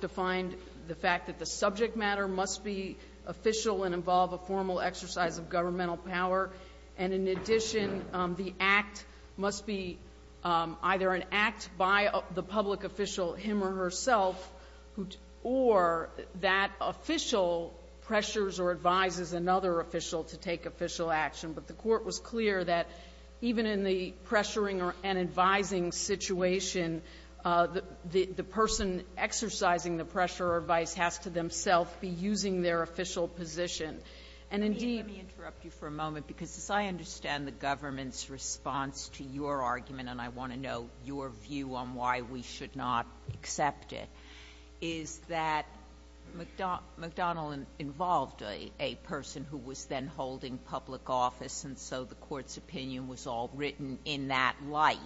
to find the fact that the subject matter must be official and involve a formal exercise of governmental power. And in addition, the act must be either an act by the public official, him or herself, or that official pressures or advises another official to take official action. But the Court was clear that even in the pressuring and advising situation, the person exercising the pressure or advice has to themselves be using their official position. And indeed – Let me interrupt you for a moment, because as I understand the government's response to your argument, and I want to know your view on why we should not accept it, is that McDonnell involved a person who was then holding public office, and so the Court's opinion was all written in that light,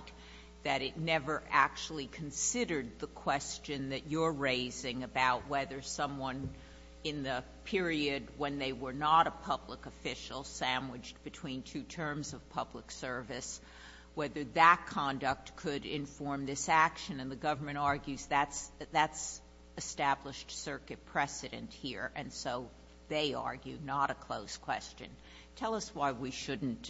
that it never actually considered the question that you're raising about whether someone in the period when they were not a public official sandwiched between two terms of public service, whether that conduct could inform this action. And the government argues that's established circuit precedent here, and so they argue not a closed question. Tell us why we shouldn't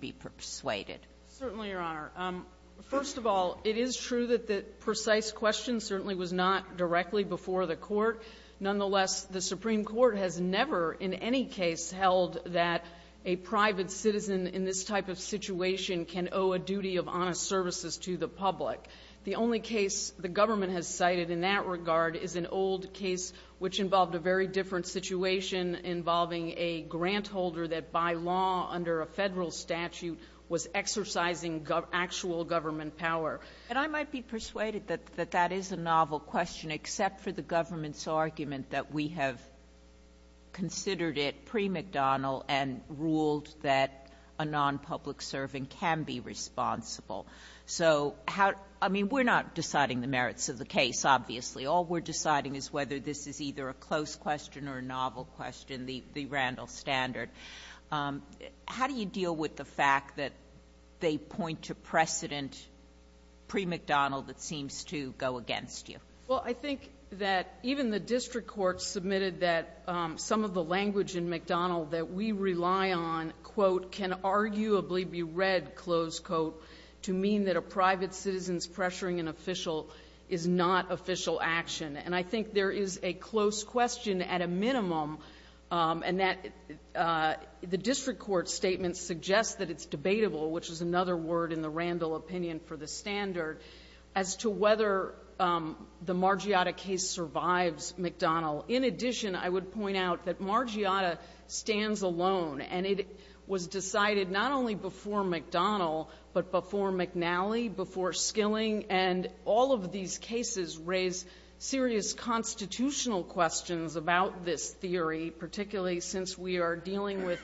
be persuaded. Certainly, Your Honor. First of all, it is true that the precise question certainly was not directly before the Court. Nonetheless, the Supreme Court has never in any case held that a private citizen in this type of situation can owe a duty of honest services to the public. The only case the government has cited in that regard is an old case which involved a very different situation involving a grant holder that by law under a Federal statute was exercising actual government power. And I might be persuaded that that is a novel question, except for the government's argument that we have considered it pre-McDonnell and ruled that a non-public servant can be responsible. So, I mean, we're not deciding the merits of the case, obviously. All we're deciding is whether this is either a closed question or a novel question, the Randall standard. How do you deal with the fact that they point to precedent pre-McDonnell that seems to go against you? Well, I think that even the district courts submitted that some of the language in McDonnell that we rely on, quote, can arguably be read, close quote, to mean that a private citizen's pressuring an official is not official action. And I think there is a close question at a minimum, and that the district court statement suggests that it's debatable, which is another word in the Randall opinion for the standard, as to whether the Margiotta case survives McDonnell. In addition, I would point out that Margiotta stands alone, and it was decided not only before McDonnell, but before McNally, before Skilling, and all of these cases raise serious constitutional questions about this theory, particularly since we are dealing with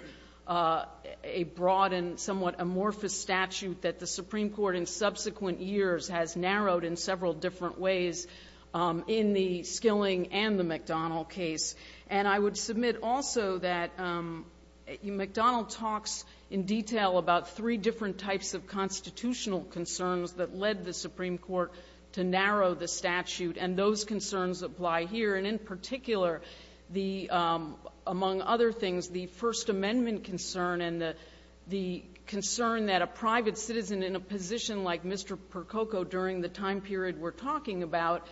a broad and somewhat amorphous statute that the Supreme Court in subsequent years has narrowed in several different ways in the Skilling and the McDonnell case. And I would submit also that McDonnell talks in detail about three different types of constitutional concerns that led the Supreme Court to narrow the statute, and those concerns apply here. And in particular, among other things, the First Amendment concern and the concern that a private citizen in a position like Mr. Percoco during the time period we're talking about,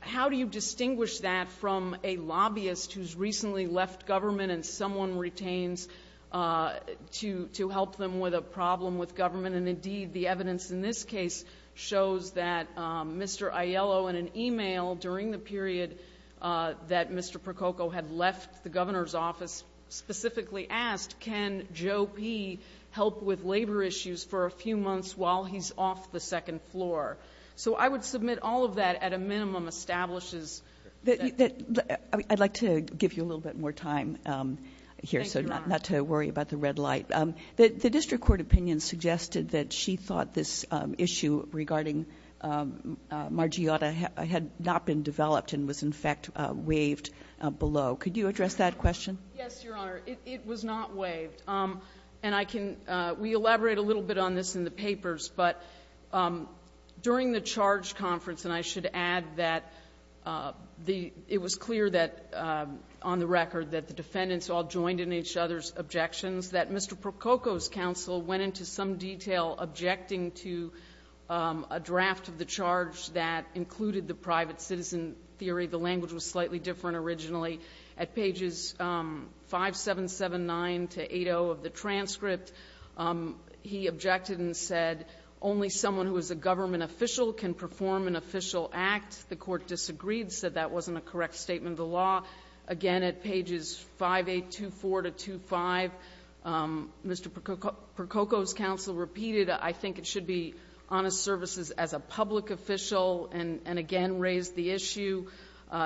how do you distinguish that from a lobbyist who's recently left government and someone retains to help them with a problem with government? And, indeed, the evidence in this case shows that Mr. Aiello, in an e-mail during the period that Mr. Percoco had left the governor's office, specifically asked, can Joe P. help with labor issues for a few months while he's off the second floor? So I would submit all of that, at a minimum, establishes that. Kagan, I'd like to give you a little bit more time here, so not to worry about the red light. The district court opinion suggested that she thought this issue regarding Margiotta had not been developed and was, in fact, waived below. Could you address that question? Yes, Your Honor. It was not waived. But during the charge conference, and I should add that it was clear that, on the record, that the defendants all joined in each other's objections, that Mr. Percoco's counsel went into some detail objecting to a draft of the charge that included the private citizen theory. The language was slightly different originally. At pages 5779 to 80 of the transcript, he objected and said, only someone who is a government official can perform an official act. The court disagreed, said that wasn't a correct statement of the law. Again, at pages 5824 to 25, Mr. Percoco's counsel repeated, I think it should be honest services as a public official, and again raised the issue.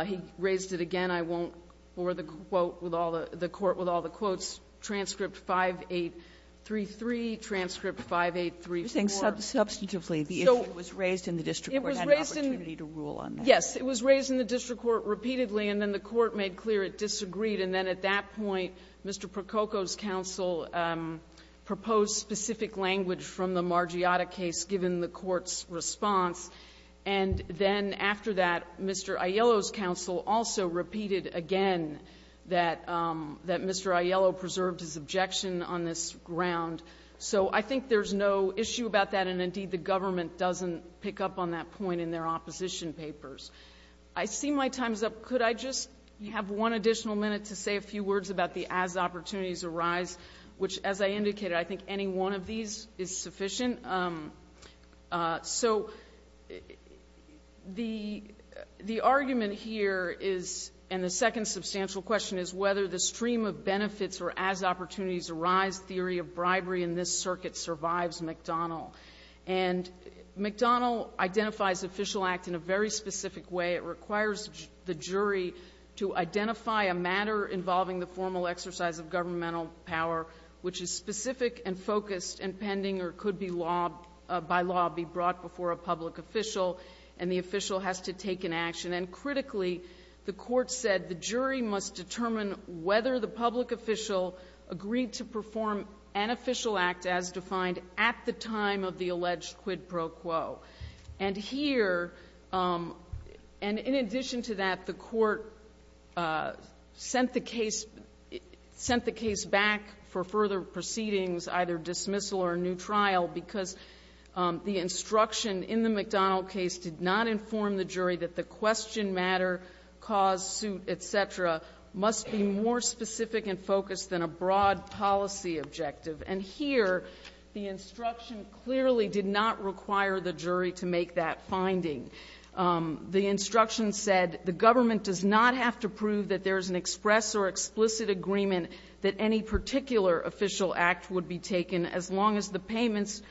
He raised it again, I won't bore the quote with all the court with all the quotes, transcript 5833, transcript 5834. You think substantively the issue was raised in the district court and had an opportunity to rule on that? Yes. It was raised in the district court repeatedly, and then the court made clear it disagreed. And then at that point, Mr. Percoco's counsel proposed specific language from the Margiotta case given the court's response. And then after that, Mr. Aiello's counsel also repeated again that Mr. Aiello preserved his objection on this ground. So I think there's no issue about that, and indeed the government doesn't pick up on that point in their opposition papers. I see my time is up. Could I just have one additional minute to say a few words about the as opportunities arise, which as I indicated, I think any one of these is sufficient. So the argument here is, and the second substantial question is whether the stream of benefits or as opportunities arise theory of bribery in this circuit survives McDonnell. And McDonnell identifies official act in a very specific way. It requires the jury to identify a matter involving the formal exercise of governmental power, which is specific and focused and pending or could by law be brought before a public official, and the official has to take an action. And critically, the court said the jury must determine whether the public official agreed to perform an official act as defined at the time of the alleged quid pro quo. And here, and in addition to that, the court sent the case, sent the case back for further proceedings, either dismissal or a new trial, because the instruction in the McDonnell case did not inform the jury that the question matter, cause, suit, et cetera, must be more specific and focused than a broad policy objective. And here, the instruction clearly did not require the jury to make that finding. The instruction said the government does not have to prove that there is an express or explicit agreement that any particular official act would be taken as long as the payments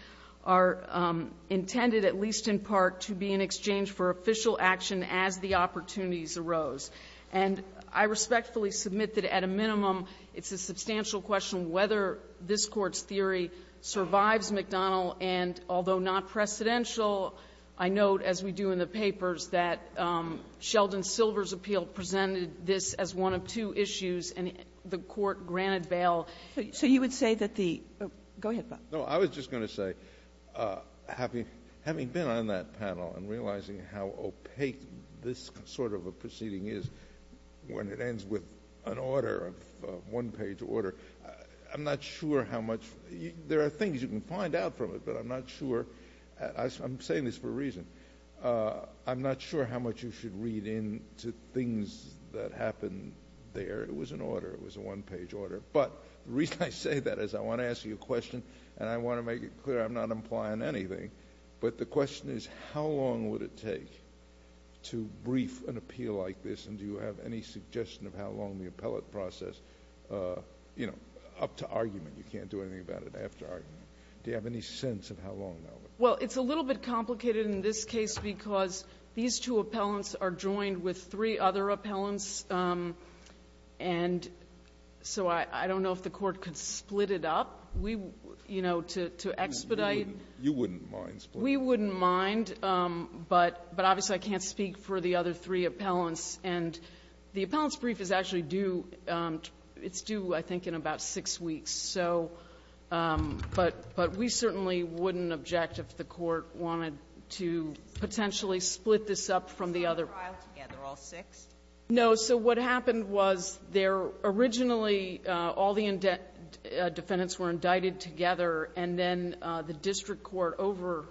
are intended, at least in part, to be in exchange for official action as the opportunities arose. And I respectfully submit that at a minimum, it's a substantial question whether this Court's theory survives McDonnell. And although not precedential, I note, as we do in the papers, that Sheldon Silver's appeal presented this as one of two issues, and the Court granted bail. So you would say that the — go ahead, Bob. No. I was just going to say, having been on that panel and realizing how opaque this sort of a proceeding is when it ends with an order, a one-page order, I'm not sure how much — there are things you can find out from it, but I'm not sure. I'm saying this for a reason. I'm not sure how much you should read into things that happened there. It was an order. It was a one-page order. But the reason I say that is I want to ask you a question, and I want to make it clear I'm not implying anything. But the question is how long would it take to brief an appeal like this, and do you have any suggestion of how long the appellate process, you know, up to argument — you can't do anything about it after argument — do you have any sense of how long that would take? Well, it's a little bit complicated in this case because these two appellants are joined with three other appellants, and so I don't know if the Court could split it up. We — you know, to expedite. You wouldn't mind splitting it up? We wouldn't mind, but obviously I can't speak for the other three appellants. And the appellants' brief is actually due — it's due, I think, in about six weeks. So — but we certainly wouldn't object if the Court wanted to potentially split this up from the other. So it's a trial together, all six? No. So what happened was there originally all the defendants were indicted together, and then the district court, over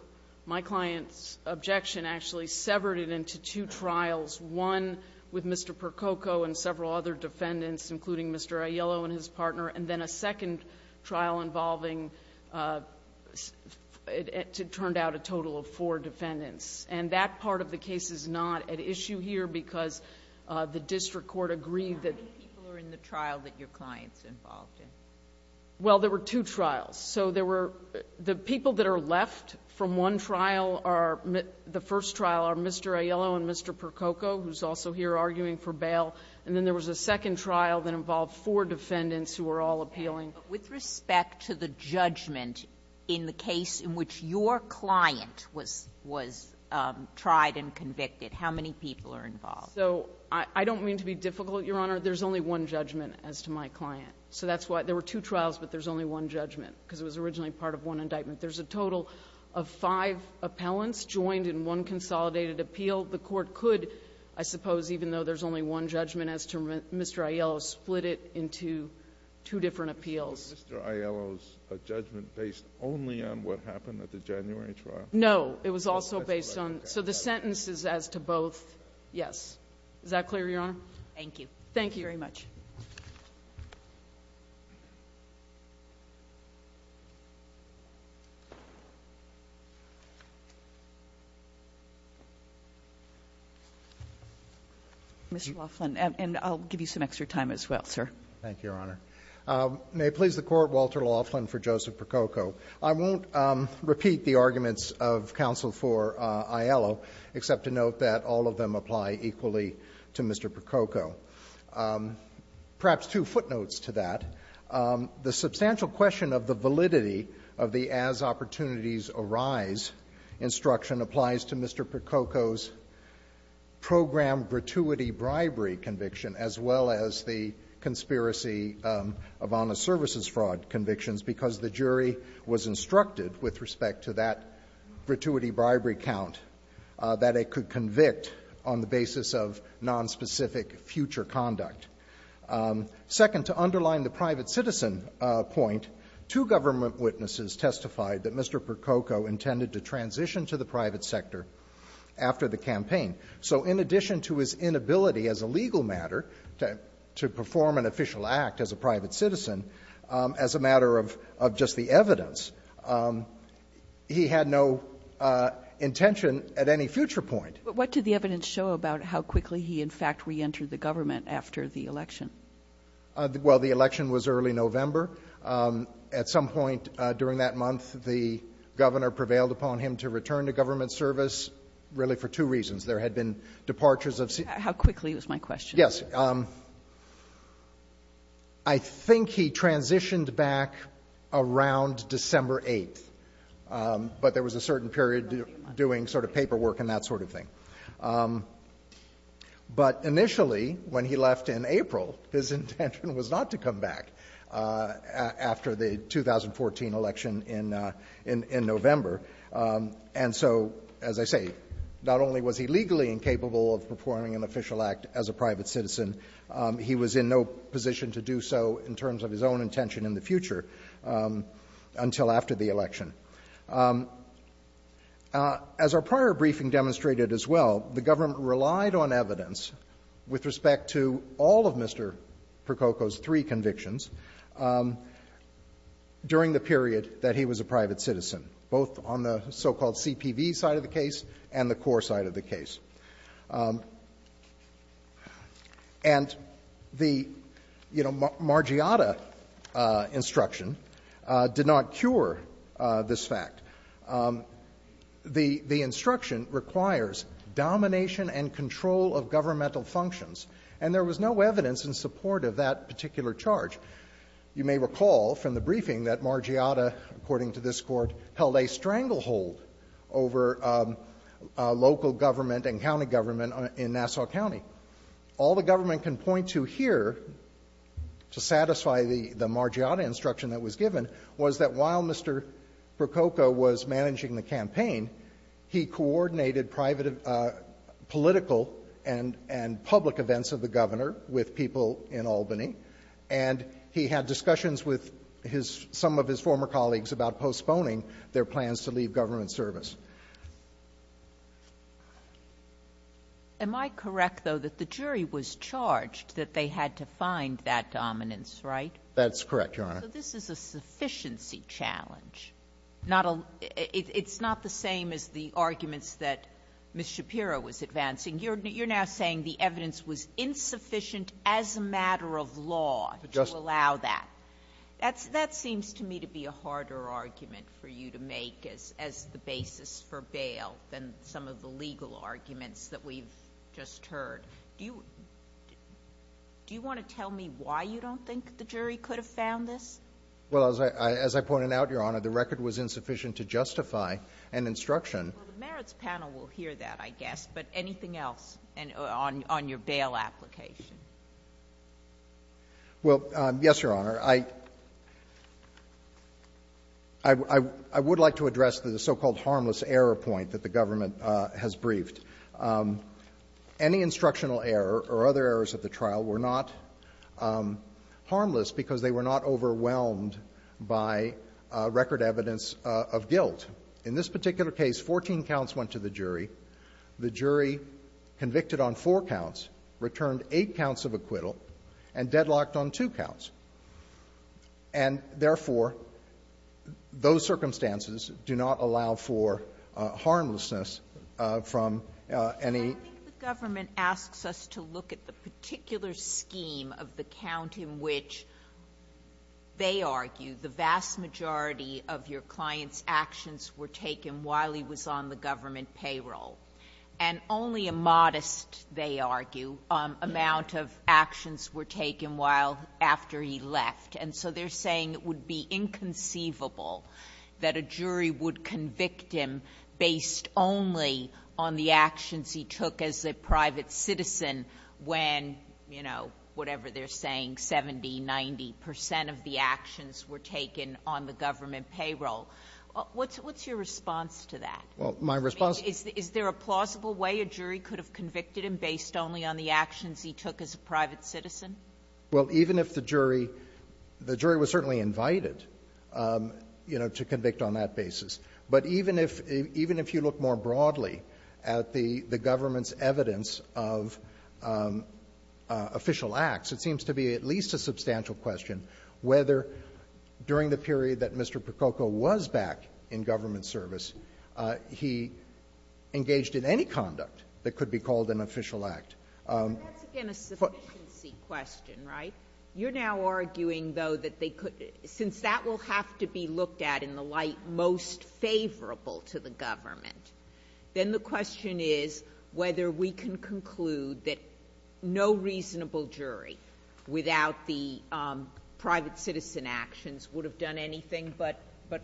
my client's objection, actually severed it into two trials, one with Mr. Percoco and several other defendants, including Mr. Aiello and his partner, and then a second trial involving — it turned out a total of four defendants. And that part of the case is not at issue here because the district court agreed that — How many people are in the trial that your client's involved in? Well, there were two trials. So there were — the people that are left from one trial are — the first trial are Mr. Aiello and Mr. Percoco, who's also here arguing for bail. And then there was a second trial that involved four defendants who were all appealing. But with respect to the judgment in the case in which your client was tried and convicted, how many people are involved? So I don't mean to be difficult, Your Honor. There's only one judgment as to my client. So that's why — there were two trials, but there's only one judgment because it was originally part of one indictment. There's a total of five appellants joined in one consolidated appeal. The Court could, I suppose, even though there's only one judgment as to Mr. Aiello, split it into two different appeals. Was Mr. Aiello's judgment based only on what happened at the January trial? No. It was also based on — so the sentence is as to both, yes. Is that clear, Your Honor? Thank you. Thank you very much. Mr. Laughlin. And I'll give you some extra time as well, sir. Thank you, Your Honor. May it please the Court, Walter Laughlin for Joseph Prococo. I won't repeat the arguments of counsel for Aiello, except to note that all of them apply equally to Mr. Prococo. Perhaps two footnotes to that. The substantial question of the validity of the as-opportunities-arise instruction applies to Mr. Prococo's program gratuity bribery conviction as well as the conspiracy of honest services fraud convictions because the jury was instructed with respect to that gratuity bribery count that it could convict on the basis of future conduct. Second, to underline the private citizen point, two government witnesses testified that Mr. Prococo intended to transition to the private sector after the campaign. So in addition to his inability as a legal matter to perform an official act as a private citizen, as a matter of just the evidence, he had no intention at any future point. But what did the evidence show about how quickly he, in fact, reentered the government after the election? Well, the election was early November. At some point during that month, the governor prevailed upon him to return to government service, really for two reasons. There had been departures of citizens. How quickly was my question? Yes. I think he transitioned back around December 8th, but there was a certain period during sort of paperwork and that sort of thing. But initially, when he left in April, his intention was not to come back after the 2014 election in November. And so, as I say, not only was he legally incapable of performing an official act as a private citizen, he was in no position to do so in terms of his own intention in the future until after the election. As our prior briefing demonstrated as well, the government relied on evidence with respect to all of Mr. Prococo's three convictions during the period that he was a private citizen, both on the so-called CPV side of the case and the core side of the case. And the, you know, Margiata instruction did not cure the decision that Mr. Prococo had made on this fact. The instruction requires domination and control of governmental functions. And there was no evidence in support of that particular charge. You may recall from the briefing that Margiata, according to this Court, held a stranglehold over local government and county government in Nassau County. All the government can point to here to satisfy the Margiata instruction that was given was that while Mr. Prococo was managing the campaign, he coordinated private political and public events of the governor with people in Albany, and he had discussions with his some of his former colleagues about postponing their plans to leave government service. Sotomayor, am I correct, though, that the jury was charged that they had to find That's correct, Your Honor. So this is a sufficiency challenge. It's not the same as the arguments that Ms. Shapiro was advancing. You're now saying the evidence was insufficient as a matter of law to allow that. That seems to me to be a harder argument for you to make as the basis for bail than some of the legal arguments that we've just heard. Do you want to tell me why you don't think the jury could have found this? Well, as I pointed out, Your Honor, the record was insufficient to justify an instruction. Well, the merits panel will hear that, I guess. But anything else on your bail application? Well, yes, Your Honor. I would like to address the so-called harmless error point that the government has briefed. Any instructional error or other errors of the trial were not harmless because they were not overwhelmed by record evidence of guilt. In this particular case, 14 counts went to the jury. The jury convicted on four counts, returned eight counts of acquittal, and deadlocked on two counts. And therefore, those circumstances do not allow for harmlessness from any I think the government asks us to look at the particular scheme of the count in which they argue the vast majority of your client's actions were taken while he was on the government payroll. And only a modest, they argue, amount of actions were taken while after he left. And so they're saying it would be inconceivable that a jury would convict him based only on the actions he took as a private citizen when, you know, whatever they're saying, 70, 90 percent of the actions were taken on the government payroll. What's your response to that? Well, my response to that is, is there a plausible way a jury could have convicted him based only on the actions he took as a private citizen? Well, even if the jury was certainly invited, you know, to convict on that basis. But even if you look more broadly at the government's evidence of official acts, it seems to be at least a substantial question whether, during the period that Mr. Prococo was back in government service, he engaged in any conduct that could be called an official act. That's, again, a sufficiency question, right? You're now arguing, though, that they could, since that will have to be looked at in the light most favorable to the government, then the question is whether we can conclude that no reasonable jury without the private citizen actions would have done anything but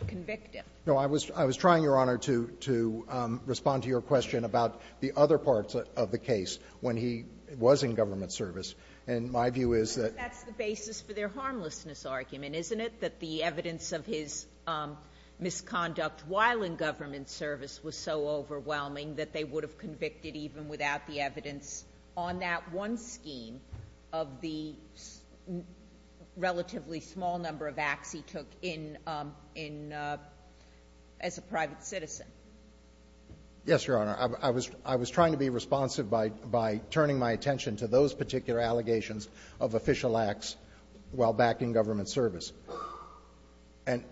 convict him. No, I was trying, Your Honor, to respond to your question about the other parts of the case when he was in government service. And my view is that the basis for their harmlessness argument is that he was in government service, and isn't it, that the evidence of his misconduct while in government service was so overwhelming that they would have convicted even without the evidence on that one scheme of the relatively small number of acts he took in as a private citizen. Yes, Your Honor. I was trying to be responsive by turning my attention to those particular allegations of official acts while back in government service. And,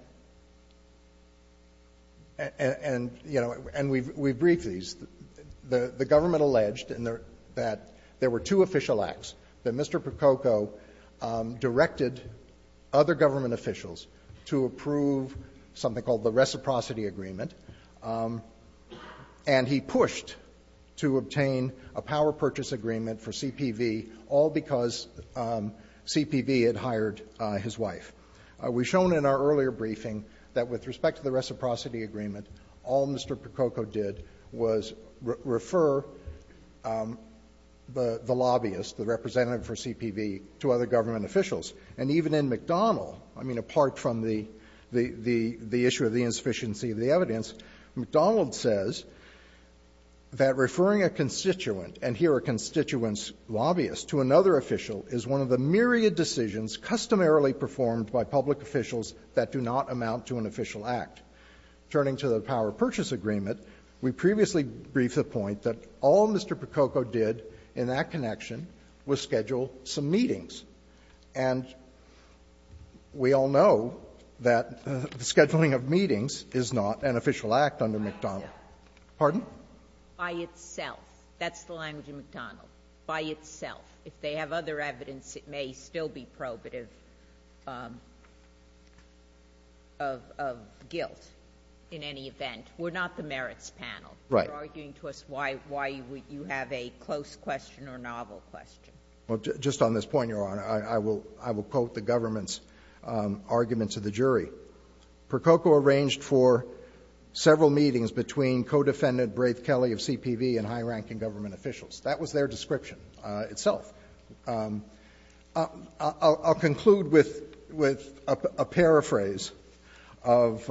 you know, and we've briefed these. The government alleged that there were two official acts, that Mr. Prococo directed other government officials to approve something called the Reciprocity Agreement, and he pushed to obtain a power purchase agreement for CPV, all because CPV had hired his wife. We've shown in our earlier briefing that with respect to the Reciprocity Agreement, all Mr. Prococo did was refer the lobbyist, the representative for CPV, to other government officials. And even in McDonald, I mean, apart from the issue of the insufficiency of the evidence, McDonald says that referring a constituent, and here a constituent's lobbyist, to another official is one of the myriad decisions customarily performed by public officials that do not amount to an official act. Turning to the power purchase agreement, we previously briefed the point that all Mr. Prococo did in that connection was schedule some meetings. And we all know that the scheduling of meetings is not an official act under McDonald. Pardon? By itself. That's the language of McDonald. By itself. If they have other evidence, it may still be probative of guilt in any event. We're not the merits panel. Right. You're arguing to us why you have a close question or novel question. Well, just on this point, Your Honor, I will quote the government's argument to the jury. Mr. Prococo arranged for several meetings between co-defendant Braith Kelley of CPV and high-ranking government officials. That was their description itself. I'll conclude with a paraphrase of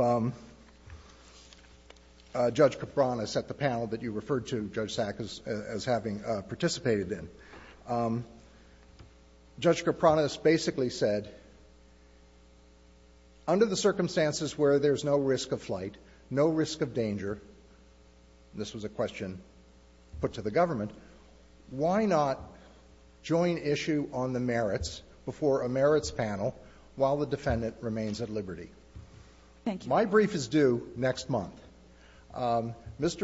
Judge Kapronis at the panel that you referred to, Judge Sack, as having participated in. Judge Kapronis basically said, under the circumstances where there's no risk of flight, no risk of danger, and this was a question put to the government, why not join issue on the merits before a merits panel while the defendant remains at liberty? Thank you. My brief is due next month. Mr.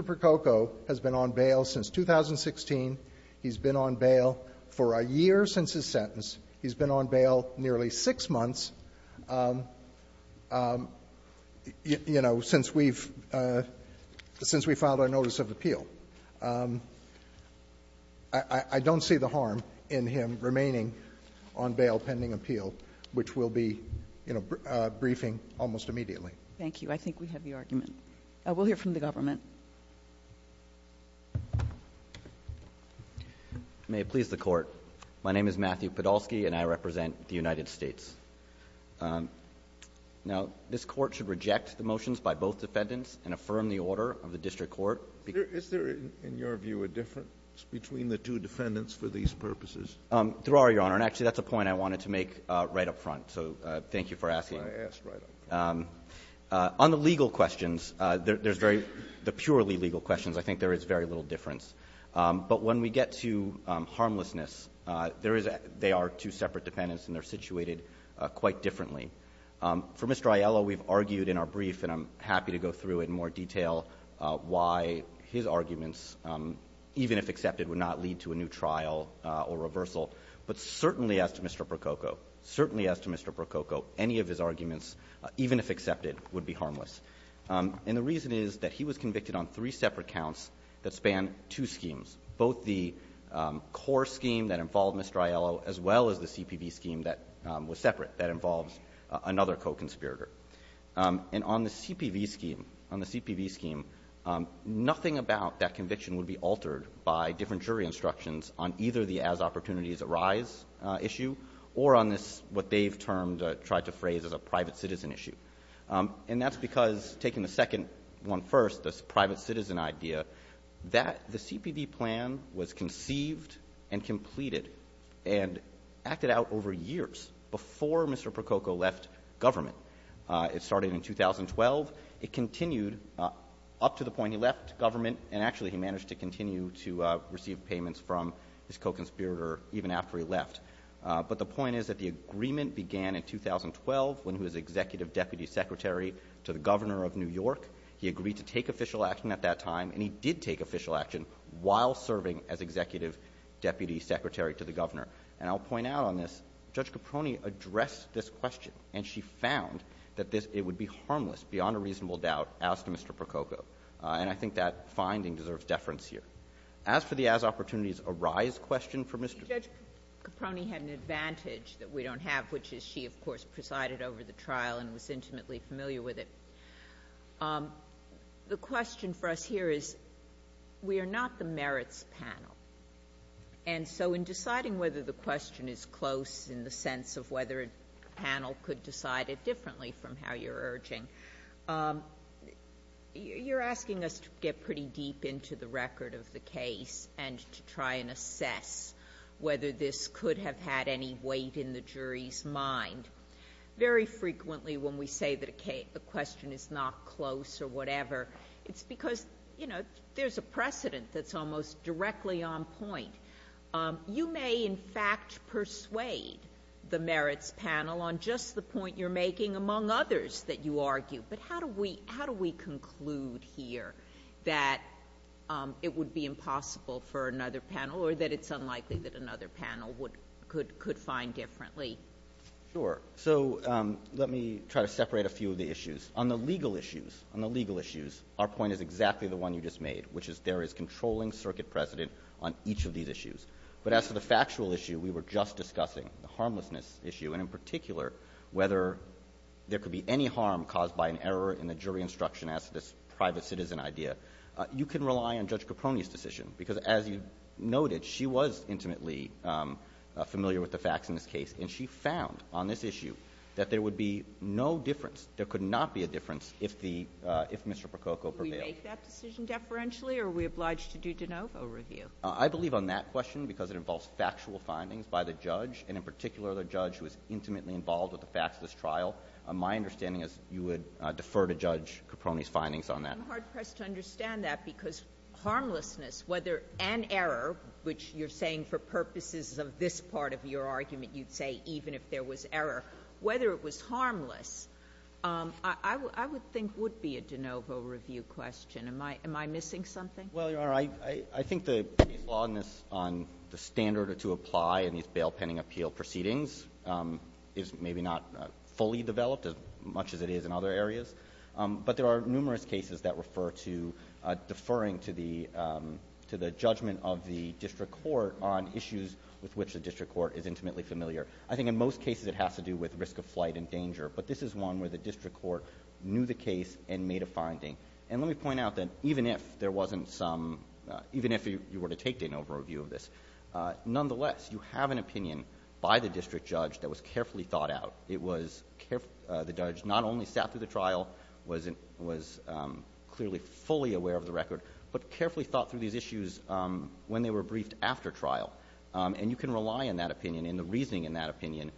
Prococo has been on bail since 2016. He's been on bail for a year since his sentence. He's been on bail nearly six months, you know, since we've — since we filed our notice of appeal. I don't see the harm in him remaining on bail pending appeal, which we'll be, you know, briefing almost immediately. Thank you. I think we have the argument. We'll hear from the government. May it please the Court, my name is Matthew Podolsky, and I represent the United States. Now, this Court should reject the motions by both defendants and affirm the order of the district court. Is there, in your view, a difference between the two defendants for these purposes? There are, Your Honor, and actually, that's a point I wanted to make right up front, so thank you for asking. That's why I asked right up front. On the legal questions, there's very — the purely legal questions, I think there is very little difference. But when we get to harmlessness, there is — they are two separate defendants, and they're situated quite differently. For Mr. Aiello, we've argued in our brief, and I'm happy to go through in more detail why his arguments, even if accepted, would not lead to a new trial or reversal. But certainly as to Mr. Prococo, certainly as to Mr. Prococo, any of his arguments, even if accepted, would be harmless. And the reason is that he was convicted on three separate counts that span two schemes, both the core scheme that involved Mr. Aiello as well as the CPV scheme that was separate that involves another co-conspirator. And on the CPV scheme, on the CPV scheme, nothing about that conviction would be altered by different jury instructions on either the as-opportunities-arise issue or on this — what they've termed — tried to phrase as a private-citizen issue. And that's because, taking the second one first, this private-citizen idea, that — the CPV plan was conceived and completed and acted out over years before Mr. Prococo left government. It started in 2012. It continued up to the point he left government, and actually he managed to continue to receive payments from his co-conspirator even after he left. But the point is that the agreement began in 2012 when he was executive deputy secretary to the governor of New York. He agreed to take official action at that time, and he did take official action while serving as executive deputy secretary to the governor. And I'll point out on this, Judge Caproni addressed this question, and she found that it would be harmless, beyond a reasonable doubt, as to Mr. Prococo. And I think that finding deserves deference here. As for the as-opportunities-arise question for Mr. Prococo — Judge Caproni had an advantage that we don't have, which is she, of course, presided over the trial and was intimately familiar with it. The question for us here is, we are not the merits panel. And so in deciding whether the question is close in the sense of whether a panel could have decided differently from how you're urging, you're asking us to get pretty deep into the record of the case and to try and assess whether this could have had any weight in the jury's mind. Very frequently when we say that a question is not close or whatever, it's because, you know, there's a precedent that's almost directly on point. You may, in fact, persuade the merits panel on just the point you're making, among others that you argue. But how do we — how do we conclude here that it would be impossible for another panel or that it's unlikely that another panel would — could — could find differently? Sure. So, let me try to separate a few of the issues. On the legal issues — on the legal issues, our point is exactly the one you just made, which is there is controlling circuit precedent on each of these issues. But as for the factual issue we were just discussing, the harmlessness issue, and in particular whether there could be any harm caused by an error in the jury instruction as to this private citizen idea, you can rely on Judge Caprone's decision. Because as you noted, she was intimately familiar with the facts in this case, and she found on this issue that there would be no difference — there could not be a difference if the — if Mr. Prococo prevailed. So do we make that decision deferentially, or are we obliged to do de novo review? I believe on that question, because it involves factual findings by the judge, and in particular the judge who is intimately involved with the facts of this trial. My understanding is you would defer to Judge Caprone's findings on that. I'm hard-pressed to understand that, because harmlessness, whether — and error, which you're saying for purposes of this part of your argument, you'd say even if there was error, whether it was harmless, I would think would be a de novo review question. Am I — am I missing something? Well, Your Honor, I think the law on this — on the standard to apply in these bail pending appeal proceedings is maybe not fully developed as much as it is in other areas. But there are numerous cases that refer to deferring to the — to the judgment of the district court on issues with which the district court is intimately familiar. I think in most cases it has to do with risk of flight and danger, but this is one where the district court knew the case and made a finding. And let me point out that even if there wasn't some — even if you were to take de novo review of this, nonetheless, you have an opinion by the district judge that was carefully thought out. It was — the judge not only sat through the trial, was clearly fully aware of the record, but carefully thought through these issues when they were briefed after trial. And you can rely on that opinion and the reasoning in that opinion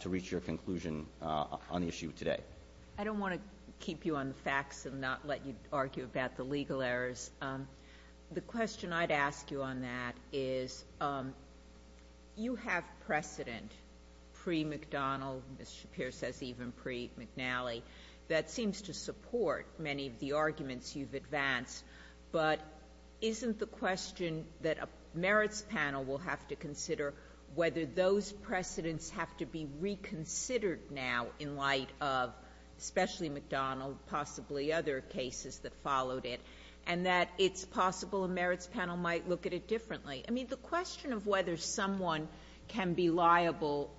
to reach your conclusion on the issue today. I don't want to keep you on the facts and not let you argue about the legal errors. The question I'd ask you on that is, you have precedent pre-McDonnell — Ms. Shapiro says even pre-McNally — that seems to support many of the arguments you've advanced, but isn't the question that a merits panel will have to consider whether those precedents have to be reconsidered now in light of especially McDonnell, possibly other cases that followed it, and that it's possible a merits panel might look at it differently? I mean, the question of whether someone can be liable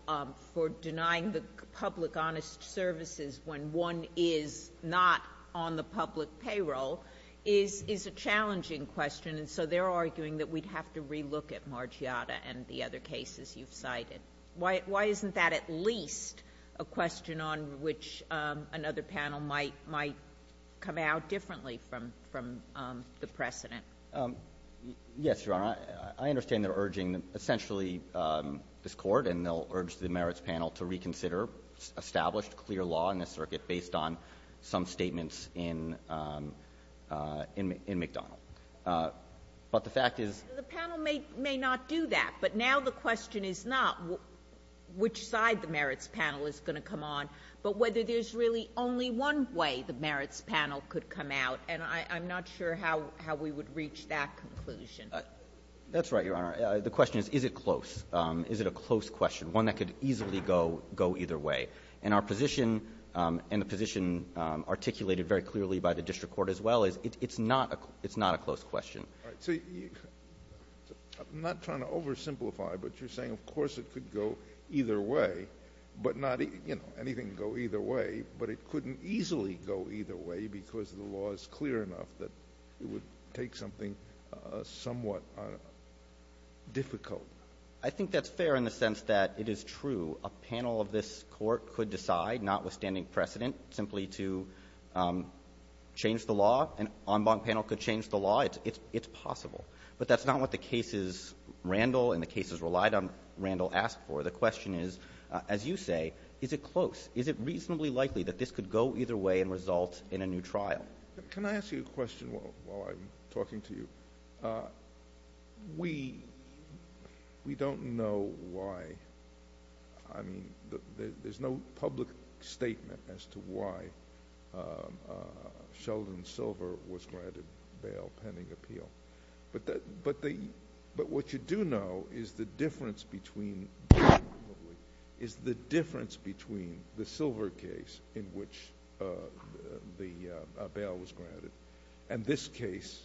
for denying the public honest services when one is not on the public payroll is a challenging question, and so they're arguing that we'd have to relook at Margiotta and the other cases you've cited. Why isn't that at least a question on which another panel might come out differently from the precedent? Yes, Your Honor, I understand they're urging essentially this Court, and they'll urge the Circuit based on some statements in — in McDonnell, but the fact is — The panel may — may not do that, but now the question is not which side the merits panel is going to come on, but whether there's really only one way the merits panel could come out, and I'm not sure how — how we would reach that conclusion. That's right, Your Honor. The question is, is it close? Is it a close question, one that could easily go — go either way? And our position, and the position articulated very clearly by the District Court as well, is it's not a — it's not a close question. All right, so you — I'm not trying to oversimplify, but you're saying, of course, it could go either way, but not — you know, anything could go either way, but it couldn't easily go either way because the law is clear enough that it would take something somewhat difficult. I think that's fair in the sense that it is true. A panel of this Court could decide, notwithstanding precedent, simply to change the law. An en banc panel could change the law. It's possible. But that's not what the cases — Randall and the cases relied on Randall asked for. The question is, as you say, is it close? Is it reasonably likely that this could go either way and result in a new trial? Can I ask you a question while I'm talking to you? We — we don't know why — I mean, there's no public statement as to why Sheldon Silver was granted bail pending appeal, but the — but what you do know is the difference between — is the difference between the Silver case in which the bail was granted and this case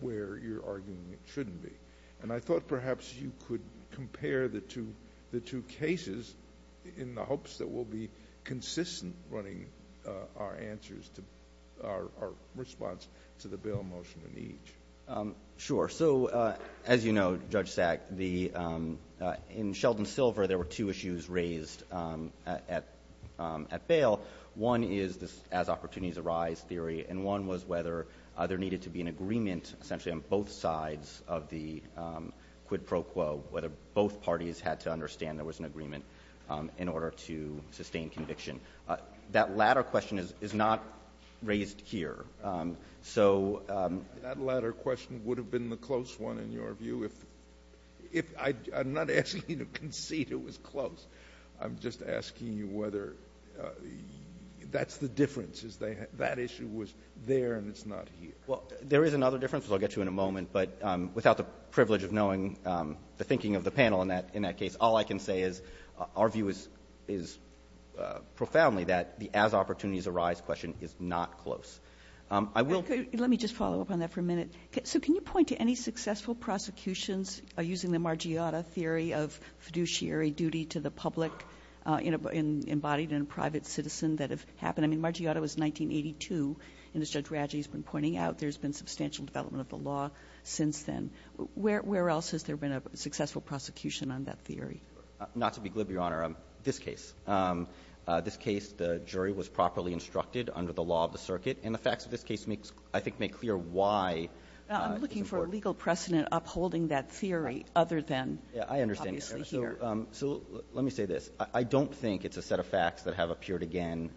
where you're arguing it shouldn't be. And I thought perhaps you could compare the two — the two cases in the hopes that we'll be consistent running our answers to — our response to the bail motion in each. Sure. So, as you know, Judge Sack, the — in Sheldon Silver, there were two issues raised at bail. One is this as-opportunities-arise theory, and one was whether there needed to be an agreement essentially on both sides of the quid pro quo, whether both parties had to understand there was an agreement in order to sustain conviction. That latter question is not raised here. So — That latter question would have been the close one, in your view, if — if — I'm not asking you to concede it was close. I'm just asking you whether that's the difference, is that issue was there and it's not here. Well, there is another difference, which I'll get to in a moment, but without the privilege of knowing the thinking of the panel in that case, all I can say is our view is profoundly that the as-opportunities-arise question is not close. I will — Let me just follow up on that for a minute. So can you point to any successful prosecutions using the Margiotta theory of fiduciary duty to the public embodied in a private citizen that have happened? I mean, Margiotta was 1982, and as Judge Radji has been pointing out, there's been substantial development of the law since then. Where else has there been a successful prosecution on that theory? Not to be glib, Your Honor. This case. This case, the jury was properly instructed under the law of the circuit, and the facts of this case make — I think make clear why it's important. I'm looking for a legal precedent upholding that theory other than — Yeah, I understand. — obviously here. So let me say this. I don't think it's a set of facts that have appeared again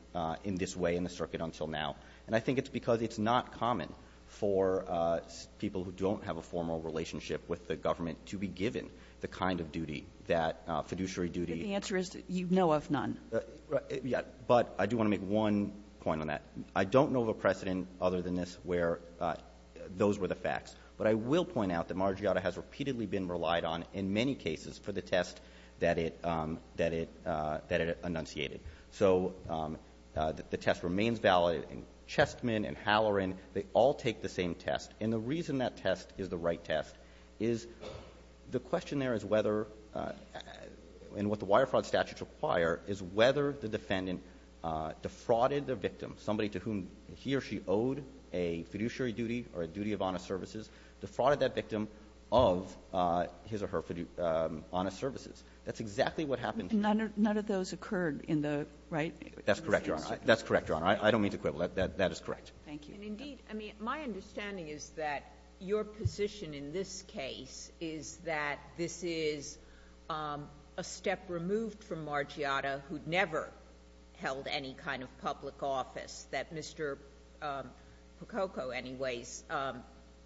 in this way in the circuit until now. And I think it's because it's not common for people who don't have a formal relationship with the government to be given the kind of duty that fiduciary duty — But the answer is you know of none. Right. Yeah. But I do want to make one point on that. I don't know of a precedent other than this where those were the facts. But I will point out that Margiotta has repeatedly been relied on in many cases for the test that it enunciated. So the test remains valid, and Chessman and Halloran, they all take the same test. And the reason that test is the right test is the question there is whether — and what the wire fraud statutes require is whether the defendant defrauded the victim, somebody to whom he or she owed a fiduciary duty or a duty of honest services, defrauded that victim of his or her honest services. That's exactly what happened — None of those occurred in the — right? That's correct, Your Honor. That's correct, Your Honor. I don't mean to quibble. That is correct. Thank you. And indeed, I mean, my understanding is that your position in this case is that this is a step removed from Margiotta, who never held any kind of public office, that Mr. Pococco, anyways,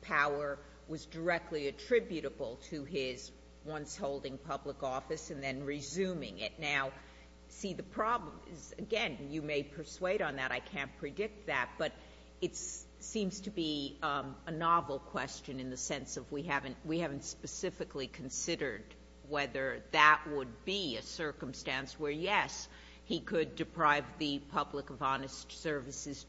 power was directly attributable to his once-holding public office and then resuming it. Now, see, the problem is, again, you may persuade on that. I can't predict that. But it seems to be a novel question in the sense of we haven't specifically considered whether that would be a circumstance where, yes, he could deprive the public of honest services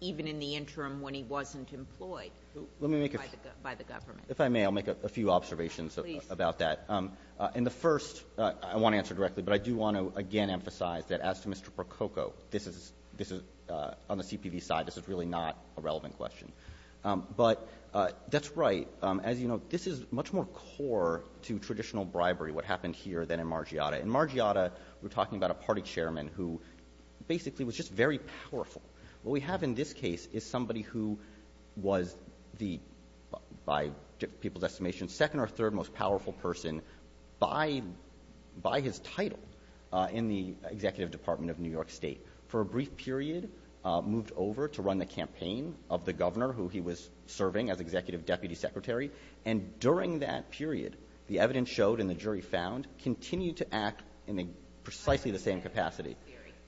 even in the interim when he wasn't employed by the government. Let me make a — if I may, I'll make a few observations about that. Please. In the first, I want to answer directly, but I do want to, again, emphasize that as to Mr. Pococco, this is — on the CPV side, this is really not a relevant question. But that's right. As you know, this is much more core to traditional bribery, what happened here, than in Margiotta. In Margiotta, we're talking about a party chairman who basically was just very powerful. What we have in this case is somebody who was the — by people's estimation, second or third most powerful person by his title in the executive department of New York State, for a brief period, moved over to run the campaign of the governor who he was serving as executive deputy secretary. And during that period, the evidence showed and the jury found continued to act in precisely the same capacity.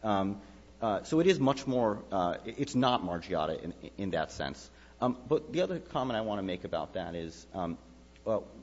So it is much more — it's not Margiotta in that sense. But the other comment I want to make about that is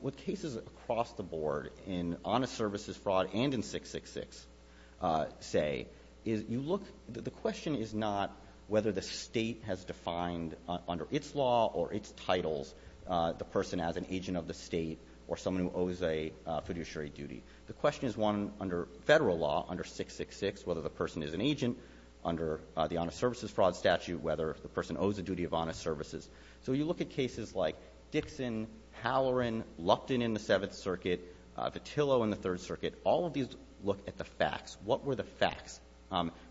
with cases across the board in honest services fraud and in 666, say, is you look — the question is not whether the state has defined under its law or its titles the person as an agent of the state or someone who owes a fiduciary duty. The question is one under federal law, under 666, whether the person is an agent under the honest services fraud statute, whether the person owes a duty of honest services. So you look at cases like Dixon, Halloran, Lupton in the Seventh Circuit, Vitillo in the Third Circuit. All of these look at the facts. What were the facts?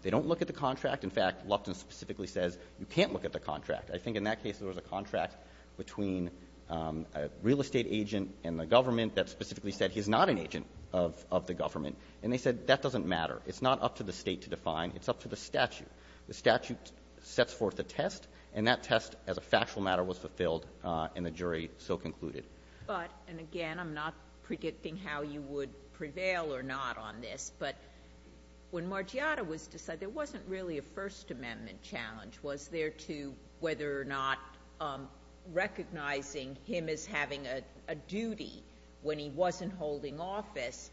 They don't look at the contract. In fact, Lupton specifically says you can't look at the contract. I think in that case, there was a contract between a real estate agent and the government that specifically said he's not an agent of the government. And they said that doesn't matter. It's not up to the state to define. It's up to the statute. The statute sets forth a test, and that test as a factual matter was fulfilled, and the jury so concluded. But — and again, I'm not predicting how you would prevail or not on this, but when you look at the first amendment, the first amendment challenge was there to whether or not recognizing him as having a duty when he wasn't holding office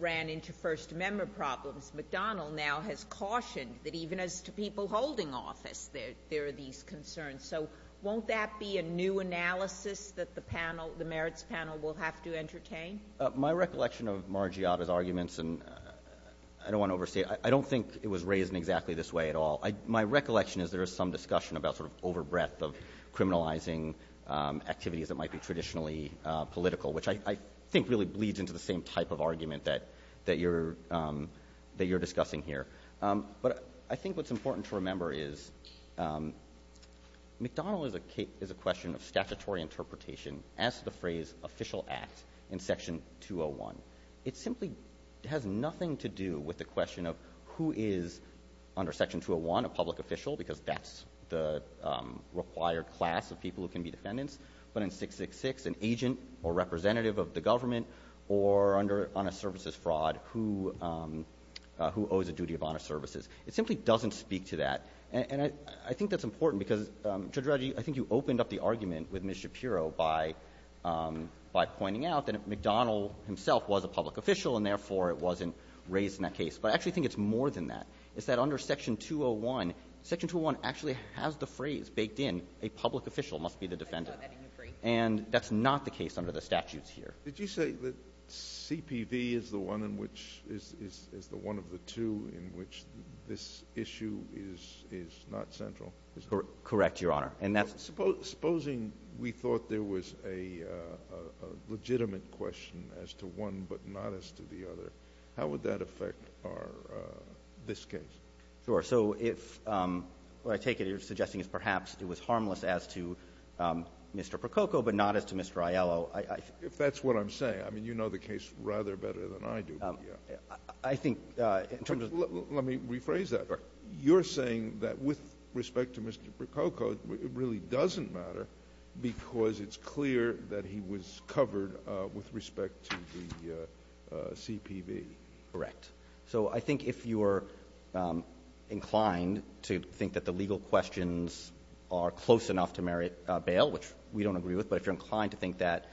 ran into First Amendment problems. McDonnell now has cautioned that even as to people holding office, there are these concerns. So won't that be a new analysis that the panel, the Merits panel, will have to entertain? My recollection of Margiotta's arguments, and I don't want to overstate it, I don't think it was raised in exactly this way at all. My recollection is there is some discussion about sort of overbreadth of criminalizing activities that might be traditionally political, which I think really bleeds into the same type of argument that you're — that you're discussing here. But I think what's important to remember is McDonnell is a question of statutory interpretation as to the phrase official act in Section 201. It simply has nothing to do with the question of who is under Section 201 a public official, because that's the required class of people who can be defendants, but in 666 an agent or representative of the government or under honest services fraud who — who owes a duty of honest services. It simply doesn't speak to that. And I think that's important because, Judge Reggie, I think you opened up the argument with Ms. Shapiro by — by pointing out that McDonnell himself was a public official and therefore it wasn't raised in that case. But I actually think it's more than that. It's that under Section 201, Section 201 actually has the phrase baked in, a public official must be the defendant. I thought that didn't agree. And that's not the case under the statutes here. Did you say that CPV is the one in which — is the one of the two in which this issue is not central? Correct, Your Honor. And that's — Supposing we thought there was a legitimate question as to one but not as to the other, how would that affect our — this case? Sure. So if — what I take it you're suggesting is perhaps it was harmless as to Mr. Prococo but not as to Mr. Aiello, I — If that's what I'm saying. I mean, you know the case rather better than I do. Let me rephrase that. All right. You're saying that with respect to Mr. Prococo, it really doesn't matter because it's clear that he was covered with respect to the CPV. Correct. So I think if you're inclined to think that the legal questions are close enough to merit bail, which we don't agree with, but if you're inclined to think that,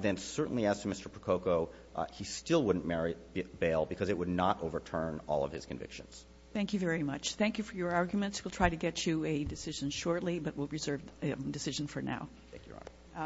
then certainly as to Mr. Prococo, he still wouldn't merit bail because it would not overturn all of his convictions. Thank you very much. Thank you for your arguments. We'll try to get you a decision shortly, but we'll reserve a decision for now. Thank you, Your Honor.